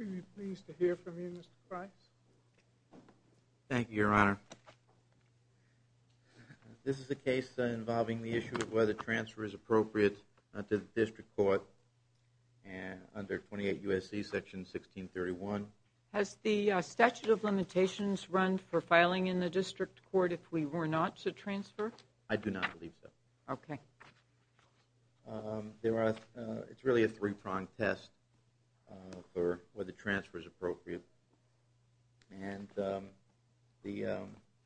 I am really pleased to hear from you, Mr. Price. Thank you, Your Honor. This is a case involving the issue of whether transfer is appropriate under the District Court under 28 U.S.C. Section 1631. Has the statute of limitations run for filing in the District Court if we were not to transfer? I do not believe so. Okay. It is really a three-pronged test for whether transfer is appropriate.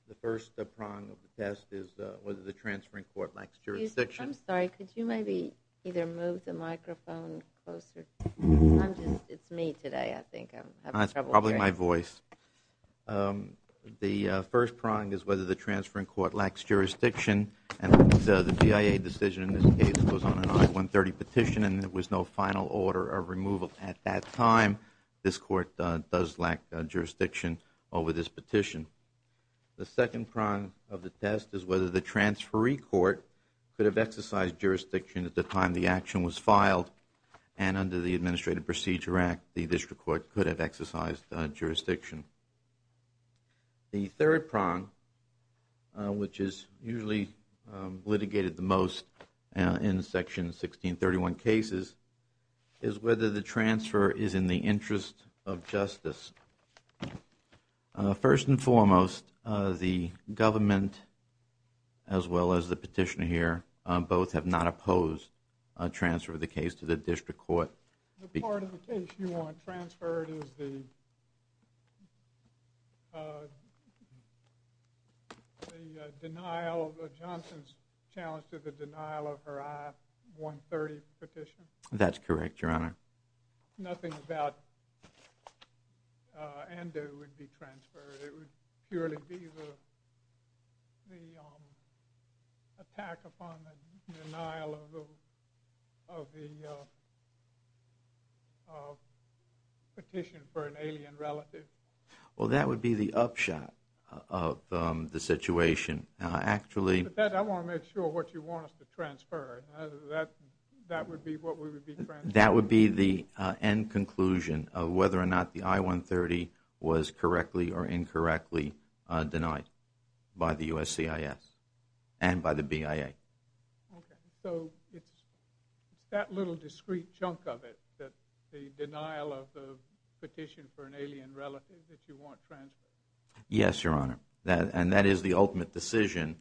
The first prong of the test is whether the transferring court lacks jurisdiction. Excuse me. I am sorry. Could you maybe either move the microphone closer? It is me today. I think I am having trouble hearing. Probably my voice. The first prong is whether the transferring court lacks jurisdiction. The BIA decision in this case was on an I-130 petition and there was no final order of removal at that time. This court does lack jurisdiction over this petition. The second prong of the test is whether the transferee court could have exercised jurisdiction at the time the action was filed and under the Administrative Procedure Act, the District Court could have exercised jurisdiction. The third prong, which is usually litigated the most in Section 1631 cases, is whether the transfer is in the interest of justice. First and foremost, the government as well as the petitioner here both have not opposed a transfer of the case to the District Court. The part of the case you want transferred is the denial of Johnson's challenge to the denial of her I-130 petition? That is correct, Your Honor. Nothing about Ando would be transferred. It would purely be the attack upon the denial of the petition for an alien relative. Well, that would be the upshot of the situation. But I want to make sure what you want us to transfer. That would be what we would be transferring. That would be the end conclusion of whether or not the I-130 was correctly or incorrectly denied by the USCIS and by the BIA. So it's that little discreet chunk of it that the denial of the petition for an alien relative that you want transferred? Yes, Your Honor. And that is the ultimate decision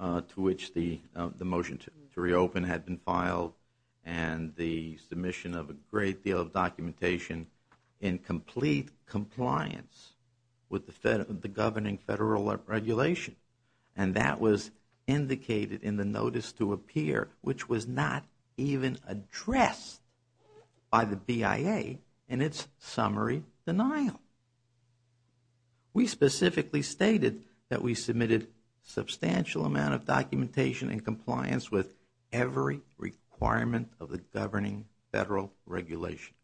to which the motion to reopen had been filed and the submission of a great deal of documentation in complete compliance with the governing federal regulation. And that was indicated in the notice to appear, which was not even addressed by the BIA in its summary denial. We specifically stated that we submitted a substantial amount of documentation in compliance with every requirement of the governing federal regulation.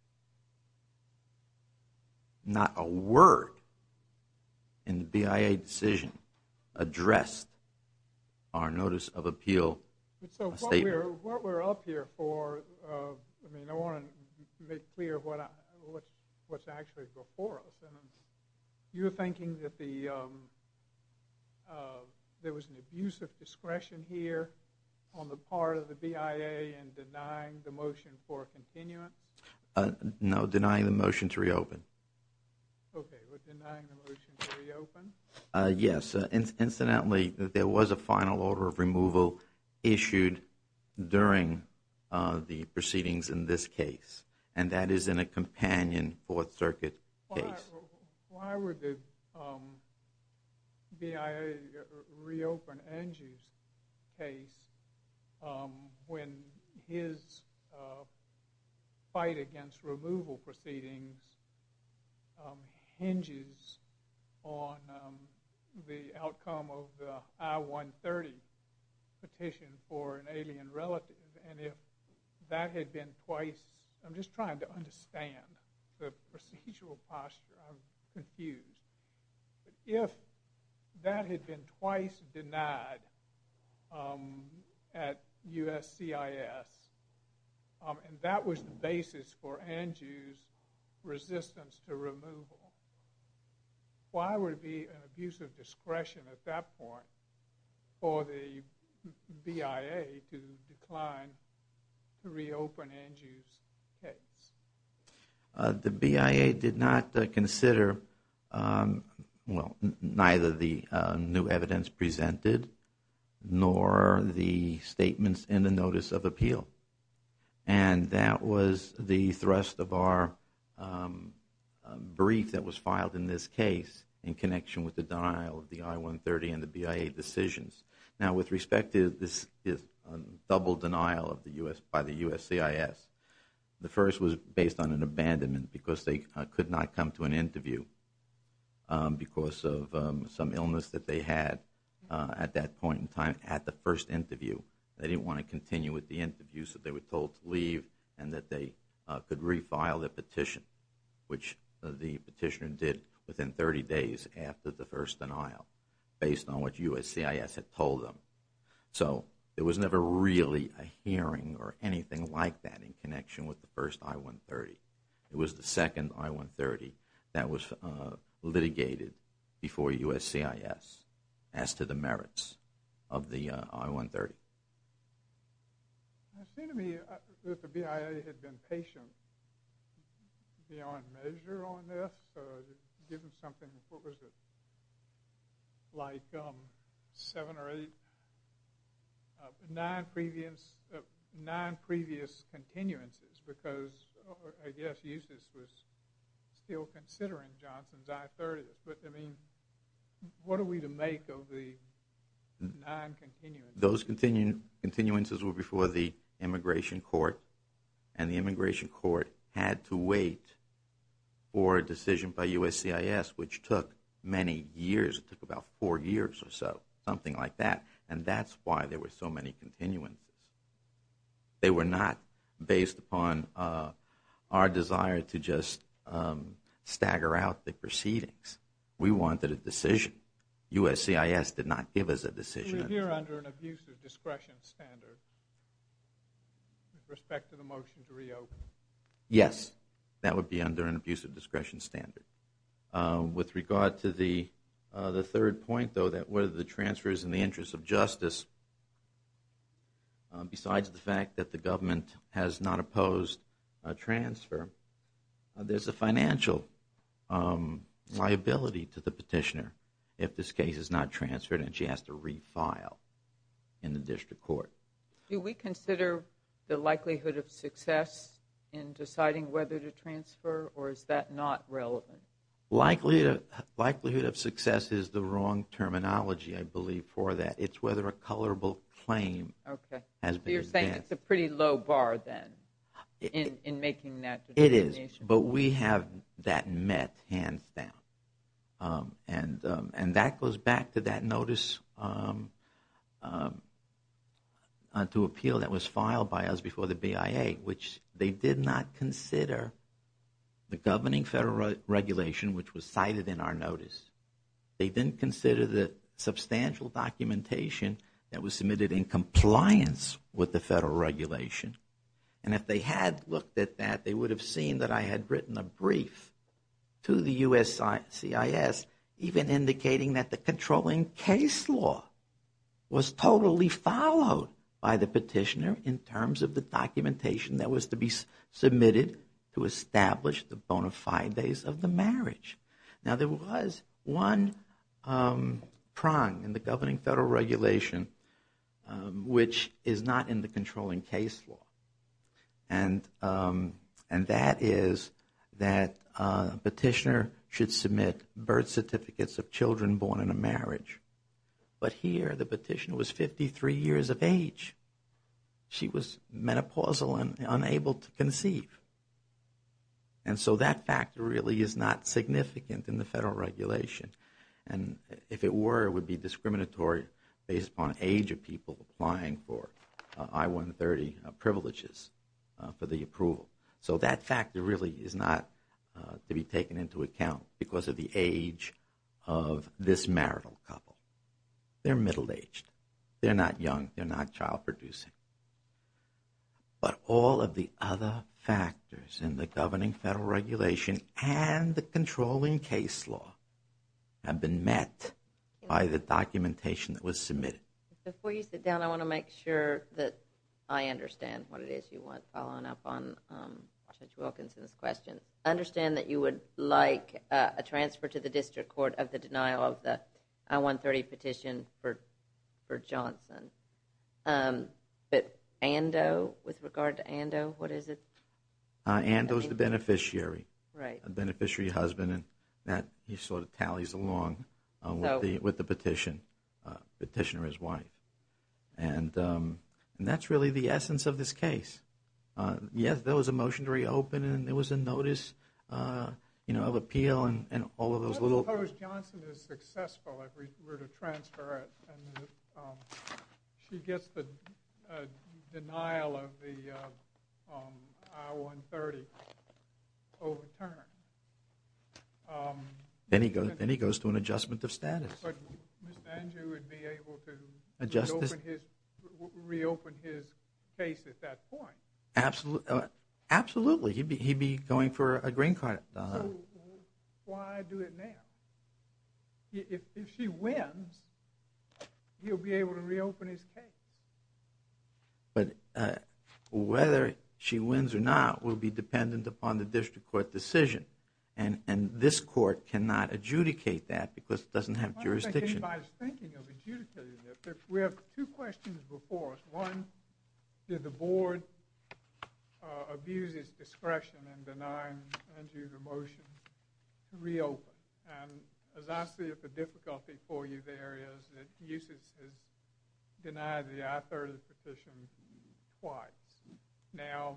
Not a word in the BIA decision addressed our notice of appeal statement. Your Honor, what we're up here for, I mean, I want to make clear what's actually before us. You're thinking that there was an abuse of discretion here on the part of the BIA in denying the motion for a continuance? No, denying the motion to reopen. Okay, but denying the motion to reopen? Yes, incidentally, there was a final order of removal issued during the proceedings in this case. And that is in a companion Fourth Circuit case. Why would the BIA reopen Angie's case when his fight against removal proceedings hinges on the outcome of the I-130 petition for an alien relative? And if that had been twice, I'm just trying to understand the procedural posture, I'm confused. If that had been twice denied at USCIS, and that was the basis for Angie's resistance to removal, why would it be an abuse of discretion at that point for the BIA to decline to reopen Angie's case? The BIA did not consider, well, neither the new evidence presented nor the statements in the notice of appeal. And that was the thrust of our brief that was filed in this case in connection with the denial of the I-130 and the BIA decisions. Now, with respect to this double denial by the USCIS, the first was based on an abandonment because they could not come to an interview because of some illness that they had at that point in time at the first interview. They didn't want to continue with the interview, so they were told to leave and that they could refile their petition, which the petitioner did within 30 days after the first denial based on what USCIS had told them. So there was never really a hearing or anything like that in connection with the first I-130. It was the second I-130 that was litigated before USCIS as to the merits of the I-130. It seemed to me that the BIA had been patient beyond measure on this, given something like seven or eight non-previous continuances because, I guess, USCIS was still considering Johnson's I-130. But, I mean, what are we to make of the non-continuances? Those continuances were before the immigration court, and the immigration court had to wait for a decision by USCIS, which took many years. It took about four years or so, something like that. And that's why there were so many continuances. They were not based upon our desire to just stagger out the proceedings. We wanted a decision. USCIS did not give us a decision. Would you revere under an abusive discretion standard with respect to the motion to reopen? Yes, that would be under an abusive discretion standard. With regard to the third point, though, that whether the transfer is in the interest of justice, besides the fact that the government has not opposed a transfer, there's a financial liability to the petitioner if this case is not transferred and she has to refile in the district court. Do we consider the likelihood of success in deciding whether to transfer, or is that not relevant? Likelihood of success is the wrong terminology, I believe, for that. It's whether a colorable claim has been advanced. That's a pretty low bar then in making that determination. It is, but we have that met hands down. And that goes back to that notice to appeal that was filed by us before the BIA, which they did not consider the governing federal regulation which was cited in our notice. They didn't consider the substantial documentation that was submitted in compliance with the federal regulation. And if they had looked at that, they would have seen that I had written a brief to the USCIS even indicating that the controlling case law was totally followed by the petitioner in terms of the documentation that was to be submitted to establish the bona fides of the marriage. Now there was one prong in the governing federal regulation which is not in the controlling case law. And that is that a petitioner should submit birth certificates of children born in a marriage. But here the petitioner was 53 years of age. She was menopausal and unable to conceive. And so that factor really is not significant in the federal regulation. And if it were, it would be discriminatory based upon age of people applying for I-130 privileges for the approval. So that factor really is not to be taken into account because of the age of this marital couple. They're middle aged. They're not young. They're not child producing. But all of the other factors in the governing federal regulation and the controlling case law have been met by the documentation that was submitted. Before you sit down, I want to make sure that I understand what it is you want following up on Judge Wilkinson's question. I understand that you would like a transfer to the district court of the denial of the I-130 petition for Johnson. But Ando, with regard to Ando, what is it? Ando is the beneficiary. Right. A beneficiary husband and that he sort of tallies along with the petitioner, his wife. And that's really the essence of this case. Yes, there was a motion to reopen and there was a notice of appeal and all of those little I suppose Johnson is successful if we were to transfer it and she gets the denial of the I-130 overturned. Then he goes to an adjustment of status. But Mr. Ando would be able to reopen his case at that point. Absolutely. He'd be going for a green card. So why do it now? If she wins, he'll be able to reopen his case. But whether she wins or not will be dependent upon the district court decision. And this court cannot adjudicate that because it doesn't have jurisdiction. In my thinking of adjudicating it, we have two questions before us. One, did the board abuse its discretion in denying Andrew the motion to reopen? And as I see it, the difficulty for you there is that UCIS has denied the I-130 petition twice. Now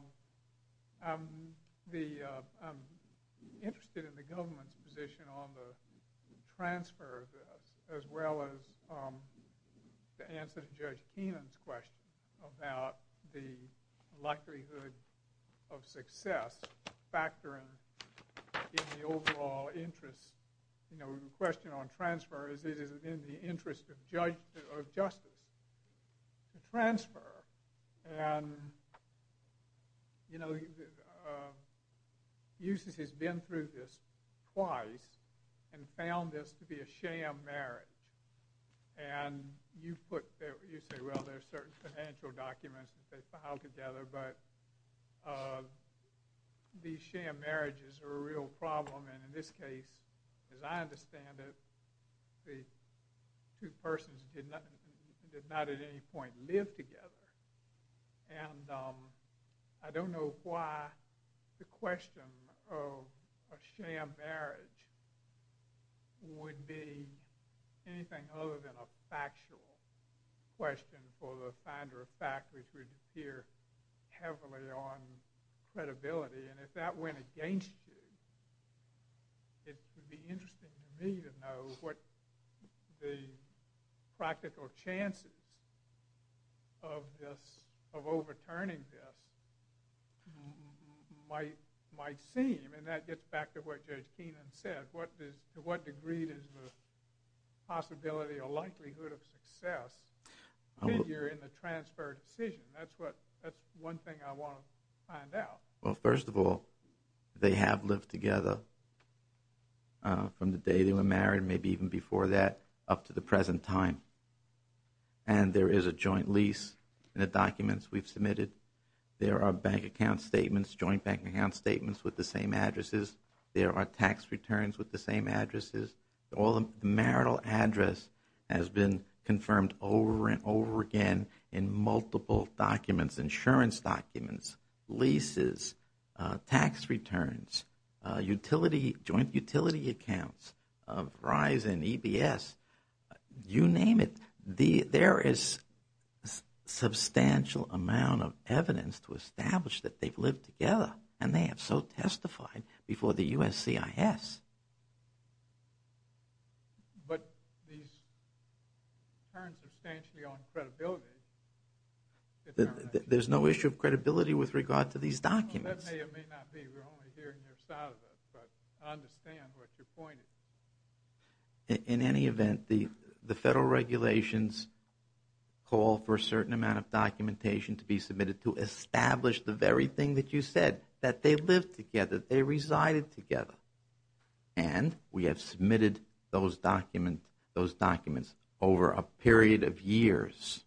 I'm interested in the government's position on the transfer of this as well as the answer to Judge Keenan's question about the likelihood of success factoring in the overall interest. The question on transfer is it is in the interest of justice to transfer. And UCIS has been through this twice and found this to be a sham marriage. And you say, well, there are certain financial documents that they filed together, but these sham marriages are a real problem. And in this case, as I understand it, the two persons did not at any point live together. And I don't know why the question of a sham marriage would be anything other than a factual question for the finder of fact, which would appear heavily on credibility. And if that went against you, it would be interesting for me to know what the practical chances of overturning this might seem. And that gets back to what Judge Keenan said. To what degree is the possibility or likelihood of success in the transfer decision? That's one thing I want to find out. Well, first of all, they have lived together from the day they were married, maybe even before that, up to the present time. And there is a joint lease in the documents we've submitted. There are bank account statements, joint bank account statements with the same addresses. There are tax returns with the same addresses. All the marital address has been confirmed over and over again in multiple documents, insurance documents, leases, tax returns, joint utility accounts of Verizon, EBS, you name it. There is substantial amount of evidence to establish that they've lived together, and they have so testified before the USCIS. But these turn substantially on credibility. There's no issue of credibility with regard to these documents. That may or may not be. We're only hearing their side of it, but I understand what you're pointing. In any event, the federal regulations call for a certain amount of documentation to be submitted to establish the very thing that you said, that they lived together, they resided together. And we have submitted those documents over a period of years,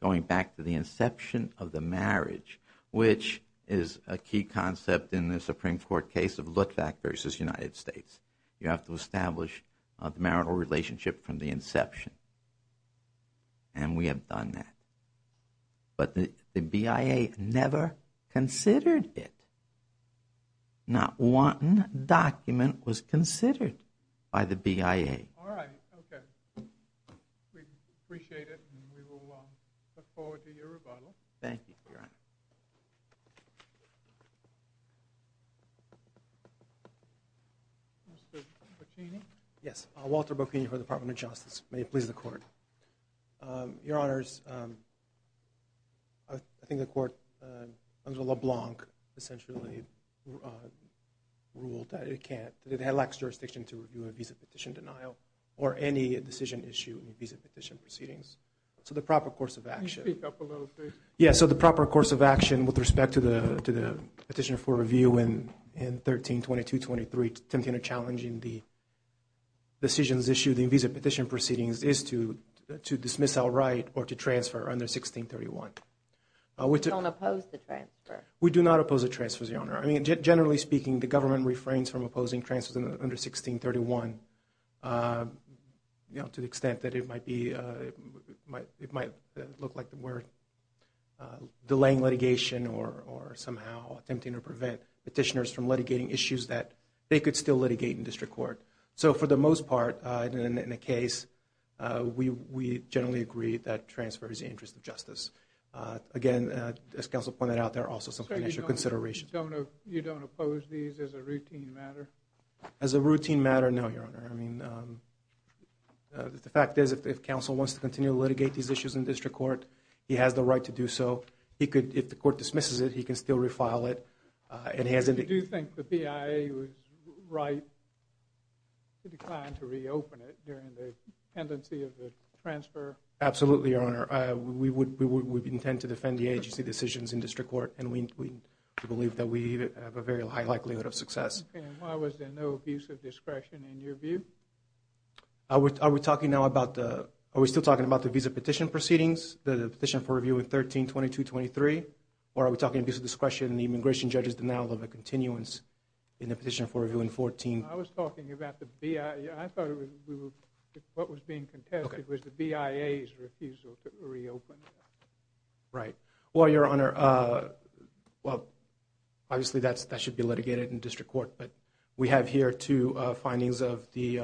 going back to the inception of the marriage, which is a key concept in the Supreme Court case of Luttwak versus United States. You have to establish a marital relationship from the inception. And we have done that. But the BIA never considered it. Not one document was considered by the BIA. All right. Okay. We appreciate it, and we will look forward to your rebuttal. Thank you, Your Honor. Mr. Bocchini? Yes. Walter Bocchini for the Department of Justice. May it please the Court. Your Honors, I think the Court, under LeBlanc, essentially ruled that it can't, that it lacks jurisdiction to review a visa petition denial or any decision issue in visa petition proceedings. So the proper course of action. Can you speak up a little bit? Yes. So the proper course of action with respect to the petitioner for review in 132223, attempting to challenge the decisions issued in visa petition proceedings, is to dismiss outright or to transfer under 1631. We don't oppose the transfer. We do not oppose the transfer, Your Honor. I mean, generally speaking, the government refrains from opposing transfers under 1631, you know, to the extent that it might be, it might look like we're delaying litigation or somehow attempting to prevent petitioners from litigating issues that they could still litigate in district court. So for the most part, in the case, we generally agree that transfer is in the interest of justice. Again, as counsel pointed out, there are also some initial considerations. So you don't oppose these as a routine matter? As a routine matter, no, Your Honor. I mean, the fact is, if counsel wants to continue to litigate these issues in district court, he has the right to do so. He could, if the court dismisses it, he can still refile it. Do you think the BIA was right to decline to reopen it during the tendency of the transfer? Absolutely, Your Honor. We would intend to defend the agency decisions in district court, and we believe that we have a very high likelihood of success. And why was there no abuse of discretion in your view? Are we talking now about the, are we still talking about the visa petition proceedings, the petition for review in 13-22-23, or are we talking abuse of discretion and the immigration judge's denial of a continuance in the petition for review in 14? I was talking about the BIA. I thought what was being contested was the BIA's refusal to reopen. Right. Well, Your Honor, well, obviously that should be litigated in district court, but we have here two findings of the,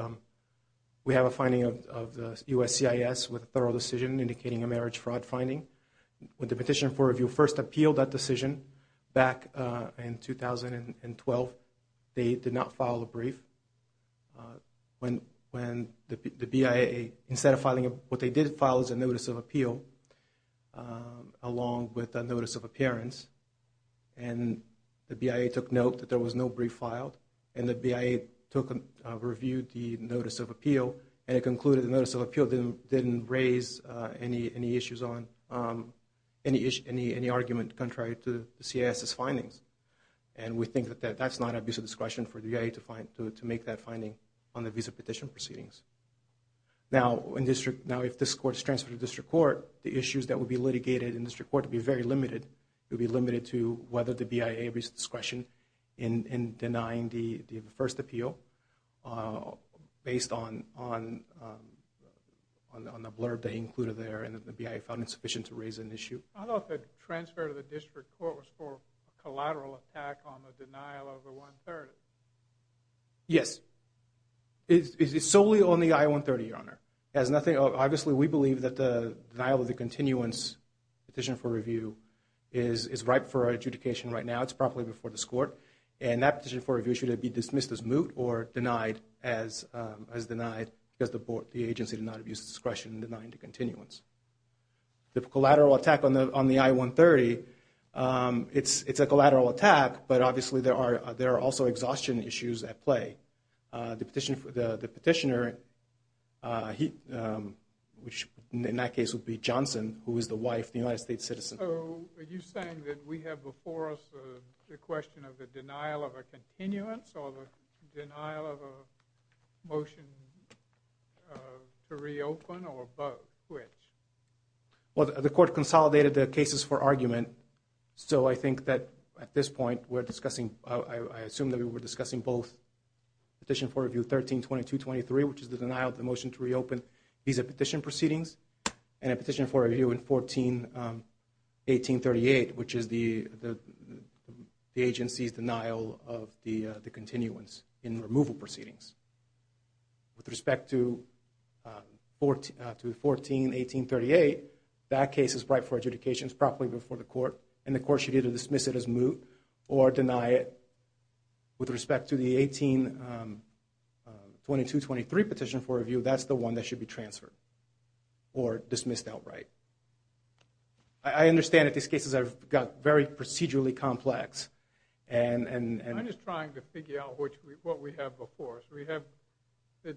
we have a finding of the USCIS with a thorough decision indicating a marriage fraud finding. When the petition for review first appealed that decision back in 2012, they did not file a brief. When the BIA, instead of filing a, what they did file is a notice of appeal along with a notice of appearance. And the BIA took note that there was no brief filed, and the BIA reviewed the notice of appeal, and it concluded the notice of appeal didn't raise any issues on, any argument contrary to the CIS's findings. And we think that that's not abuse of discretion for the BIA to make that finding on the visa petition proceedings. Now, if this court is transferred to district court, the issues that would be litigated in district court would be very limited. It would be limited to whether the BIA abused discretion in denying the first appeal based on the blurb they included there, and that the BIA found insufficient to raise an issue. I thought the transfer to the district court was for a collateral attack on the denial of the I-130. Yes. It's solely on the I-130, Your Honor. It has nothing, obviously we believe that the denial of the continuance petition for review is ripe for adjudication right now. It's probably before this court. And that petition for review should be dismissed as moot or denied as denied because the agency did not abuse discretion in denying the continuance. The collateral attack on the I-130, it's a collateral attack, but obviously there are also exhaustion issues at play. The petitioner, which in that case would be Johnson, who is the wife of the United States citizen. So are you saying that we have before us the question of the denial of a continuance or the denial of a motion to reopen or both? Which? Well, the court consolidated the cases for argument, so I think that at this point we're discussing, I assume that we were discussing both petition for review 13-22-23, which is the denial of the motion to reopen these petition proceedings, and a petition for review in 14-18-38, which is the agency's denial of the continuance in removal proceedings. With respect to 14-18-38, that case is ripe for adjudication. It's probably before the court, and the court should either dismiss it as moot or deny it. With respect to the 18-22-23 petition for review, that's the one that should be transferred or dismissed outright. I understand that these cases have got very procedurally complex. I'm just trying to figure out what we have before us. Is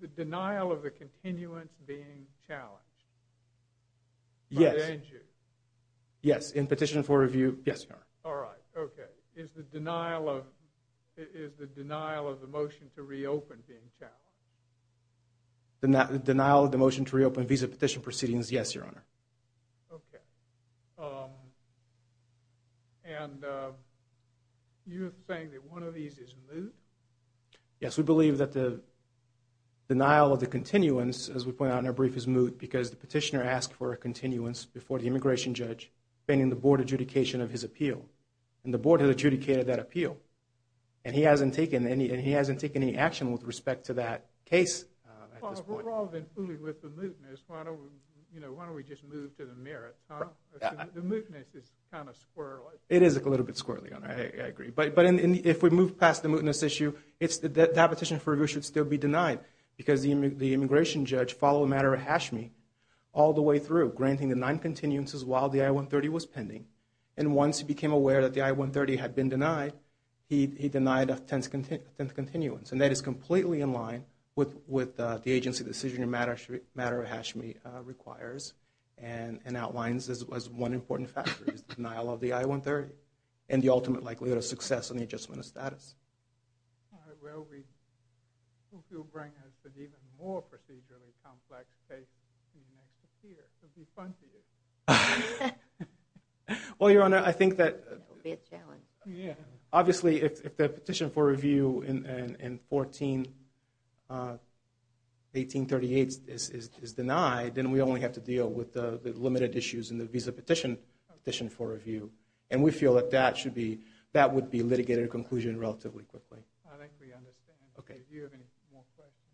the denial of the continuance being challenged? Yes. By the agency? Yes, in petition for review, yes, Your Honor. All right, okay. Is the denial of the motion to reopen being challenged? Denial of the motion to reopen visa petition proceedings, yes, Your Honor. Okay. And you're saying that one of these is moot? Yes, we believe that the denial of the continuance, as we point out in our brief, is moot because the petitioner asked for a continuance before the immigration judge, pending the board adjudication of his appeal. And the board has adjudicated that appeal. And he hasn't taken any action with respect to that case at this point. Well, if we're all then fooled with the mootness, why don't we just move to the merits? The mootness is kind of squirrely. It is a little bit squirrely, Your Honor. I agree. But if we move past the mootness issue, that petition for review should still be denied because the immigration judge followed a matter of hash me all the way through, granting the nine continuances while the I-130 was pending. And once he became aware that the I-130 had been denied, he denied a tenth continuance. And that is completely in line with the agency decision in a matter of hash me requires and outlines as one important factor is the denial of the I-130 and the ultimate likelihood of success in the adjustment of status. All right. Well, we hope you'll bring us an even more procedurally complex case next year. It will be fun for you. Well, Your Honor, I think that obviously if the petition for review in 1838 is denied, then we only have to deal with the limited issues in the visa petition for review. And we feel that that would be a litigated conclusion relatively quickly. I think we understand. Okay. If you have any more questions.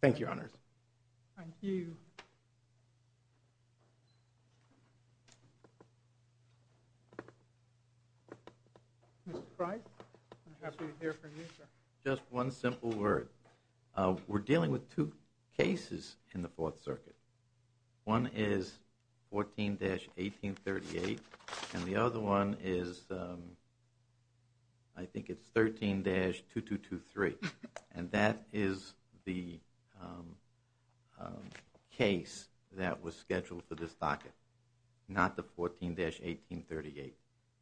Thank you, Your Honors. Thank you. Mr. Price, I'm happy to hear from you, sir. Just one simple word. We're dealing with two cases in the Fourth Circuit. One is 14-1838 and the other one is I think it's 13-2223. And that is the case that was scheduled for this docket, not the 14-1838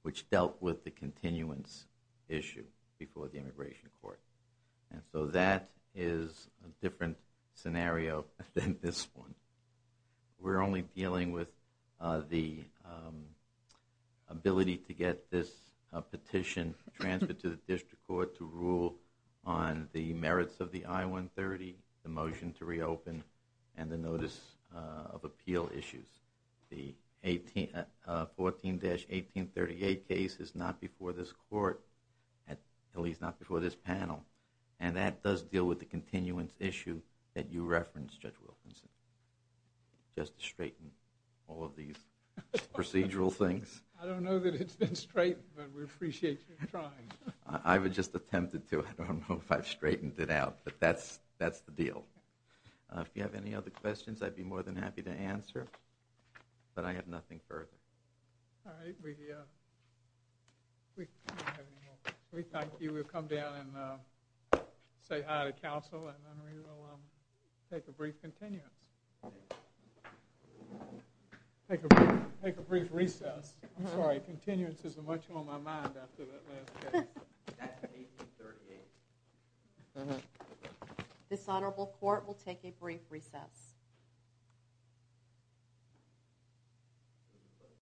which dealt with the continuance issue before the Immigration Court. And so that is a different scenario than this one. We're only dealing with the ability to get this petition transferred to the district court to rule on the merits of the I-130, the motion to reopen, and the notice of appeal issues. The 14-1838 case is not before this court, at least not before this panel. And that does deal with the continuance issue that you referenced, Judge Wilkinson. Just to straighten all of these procedural things. I don't know that it's been straightened, but we appreciate you trying. I just attempted to. I don't know if I've straightened it out, but that's the deal. If you have any other questions, I'd be more than happy to answer. But I have nothing further. All right. We thank you. We'll come down and say hi to counsel, and then we will take a brief continuance. Take a brief recess. I'm sorry. Continuance isn't much on my mind after that last case. That's 1838. Uh-huh. This honorable court will take a brief recess.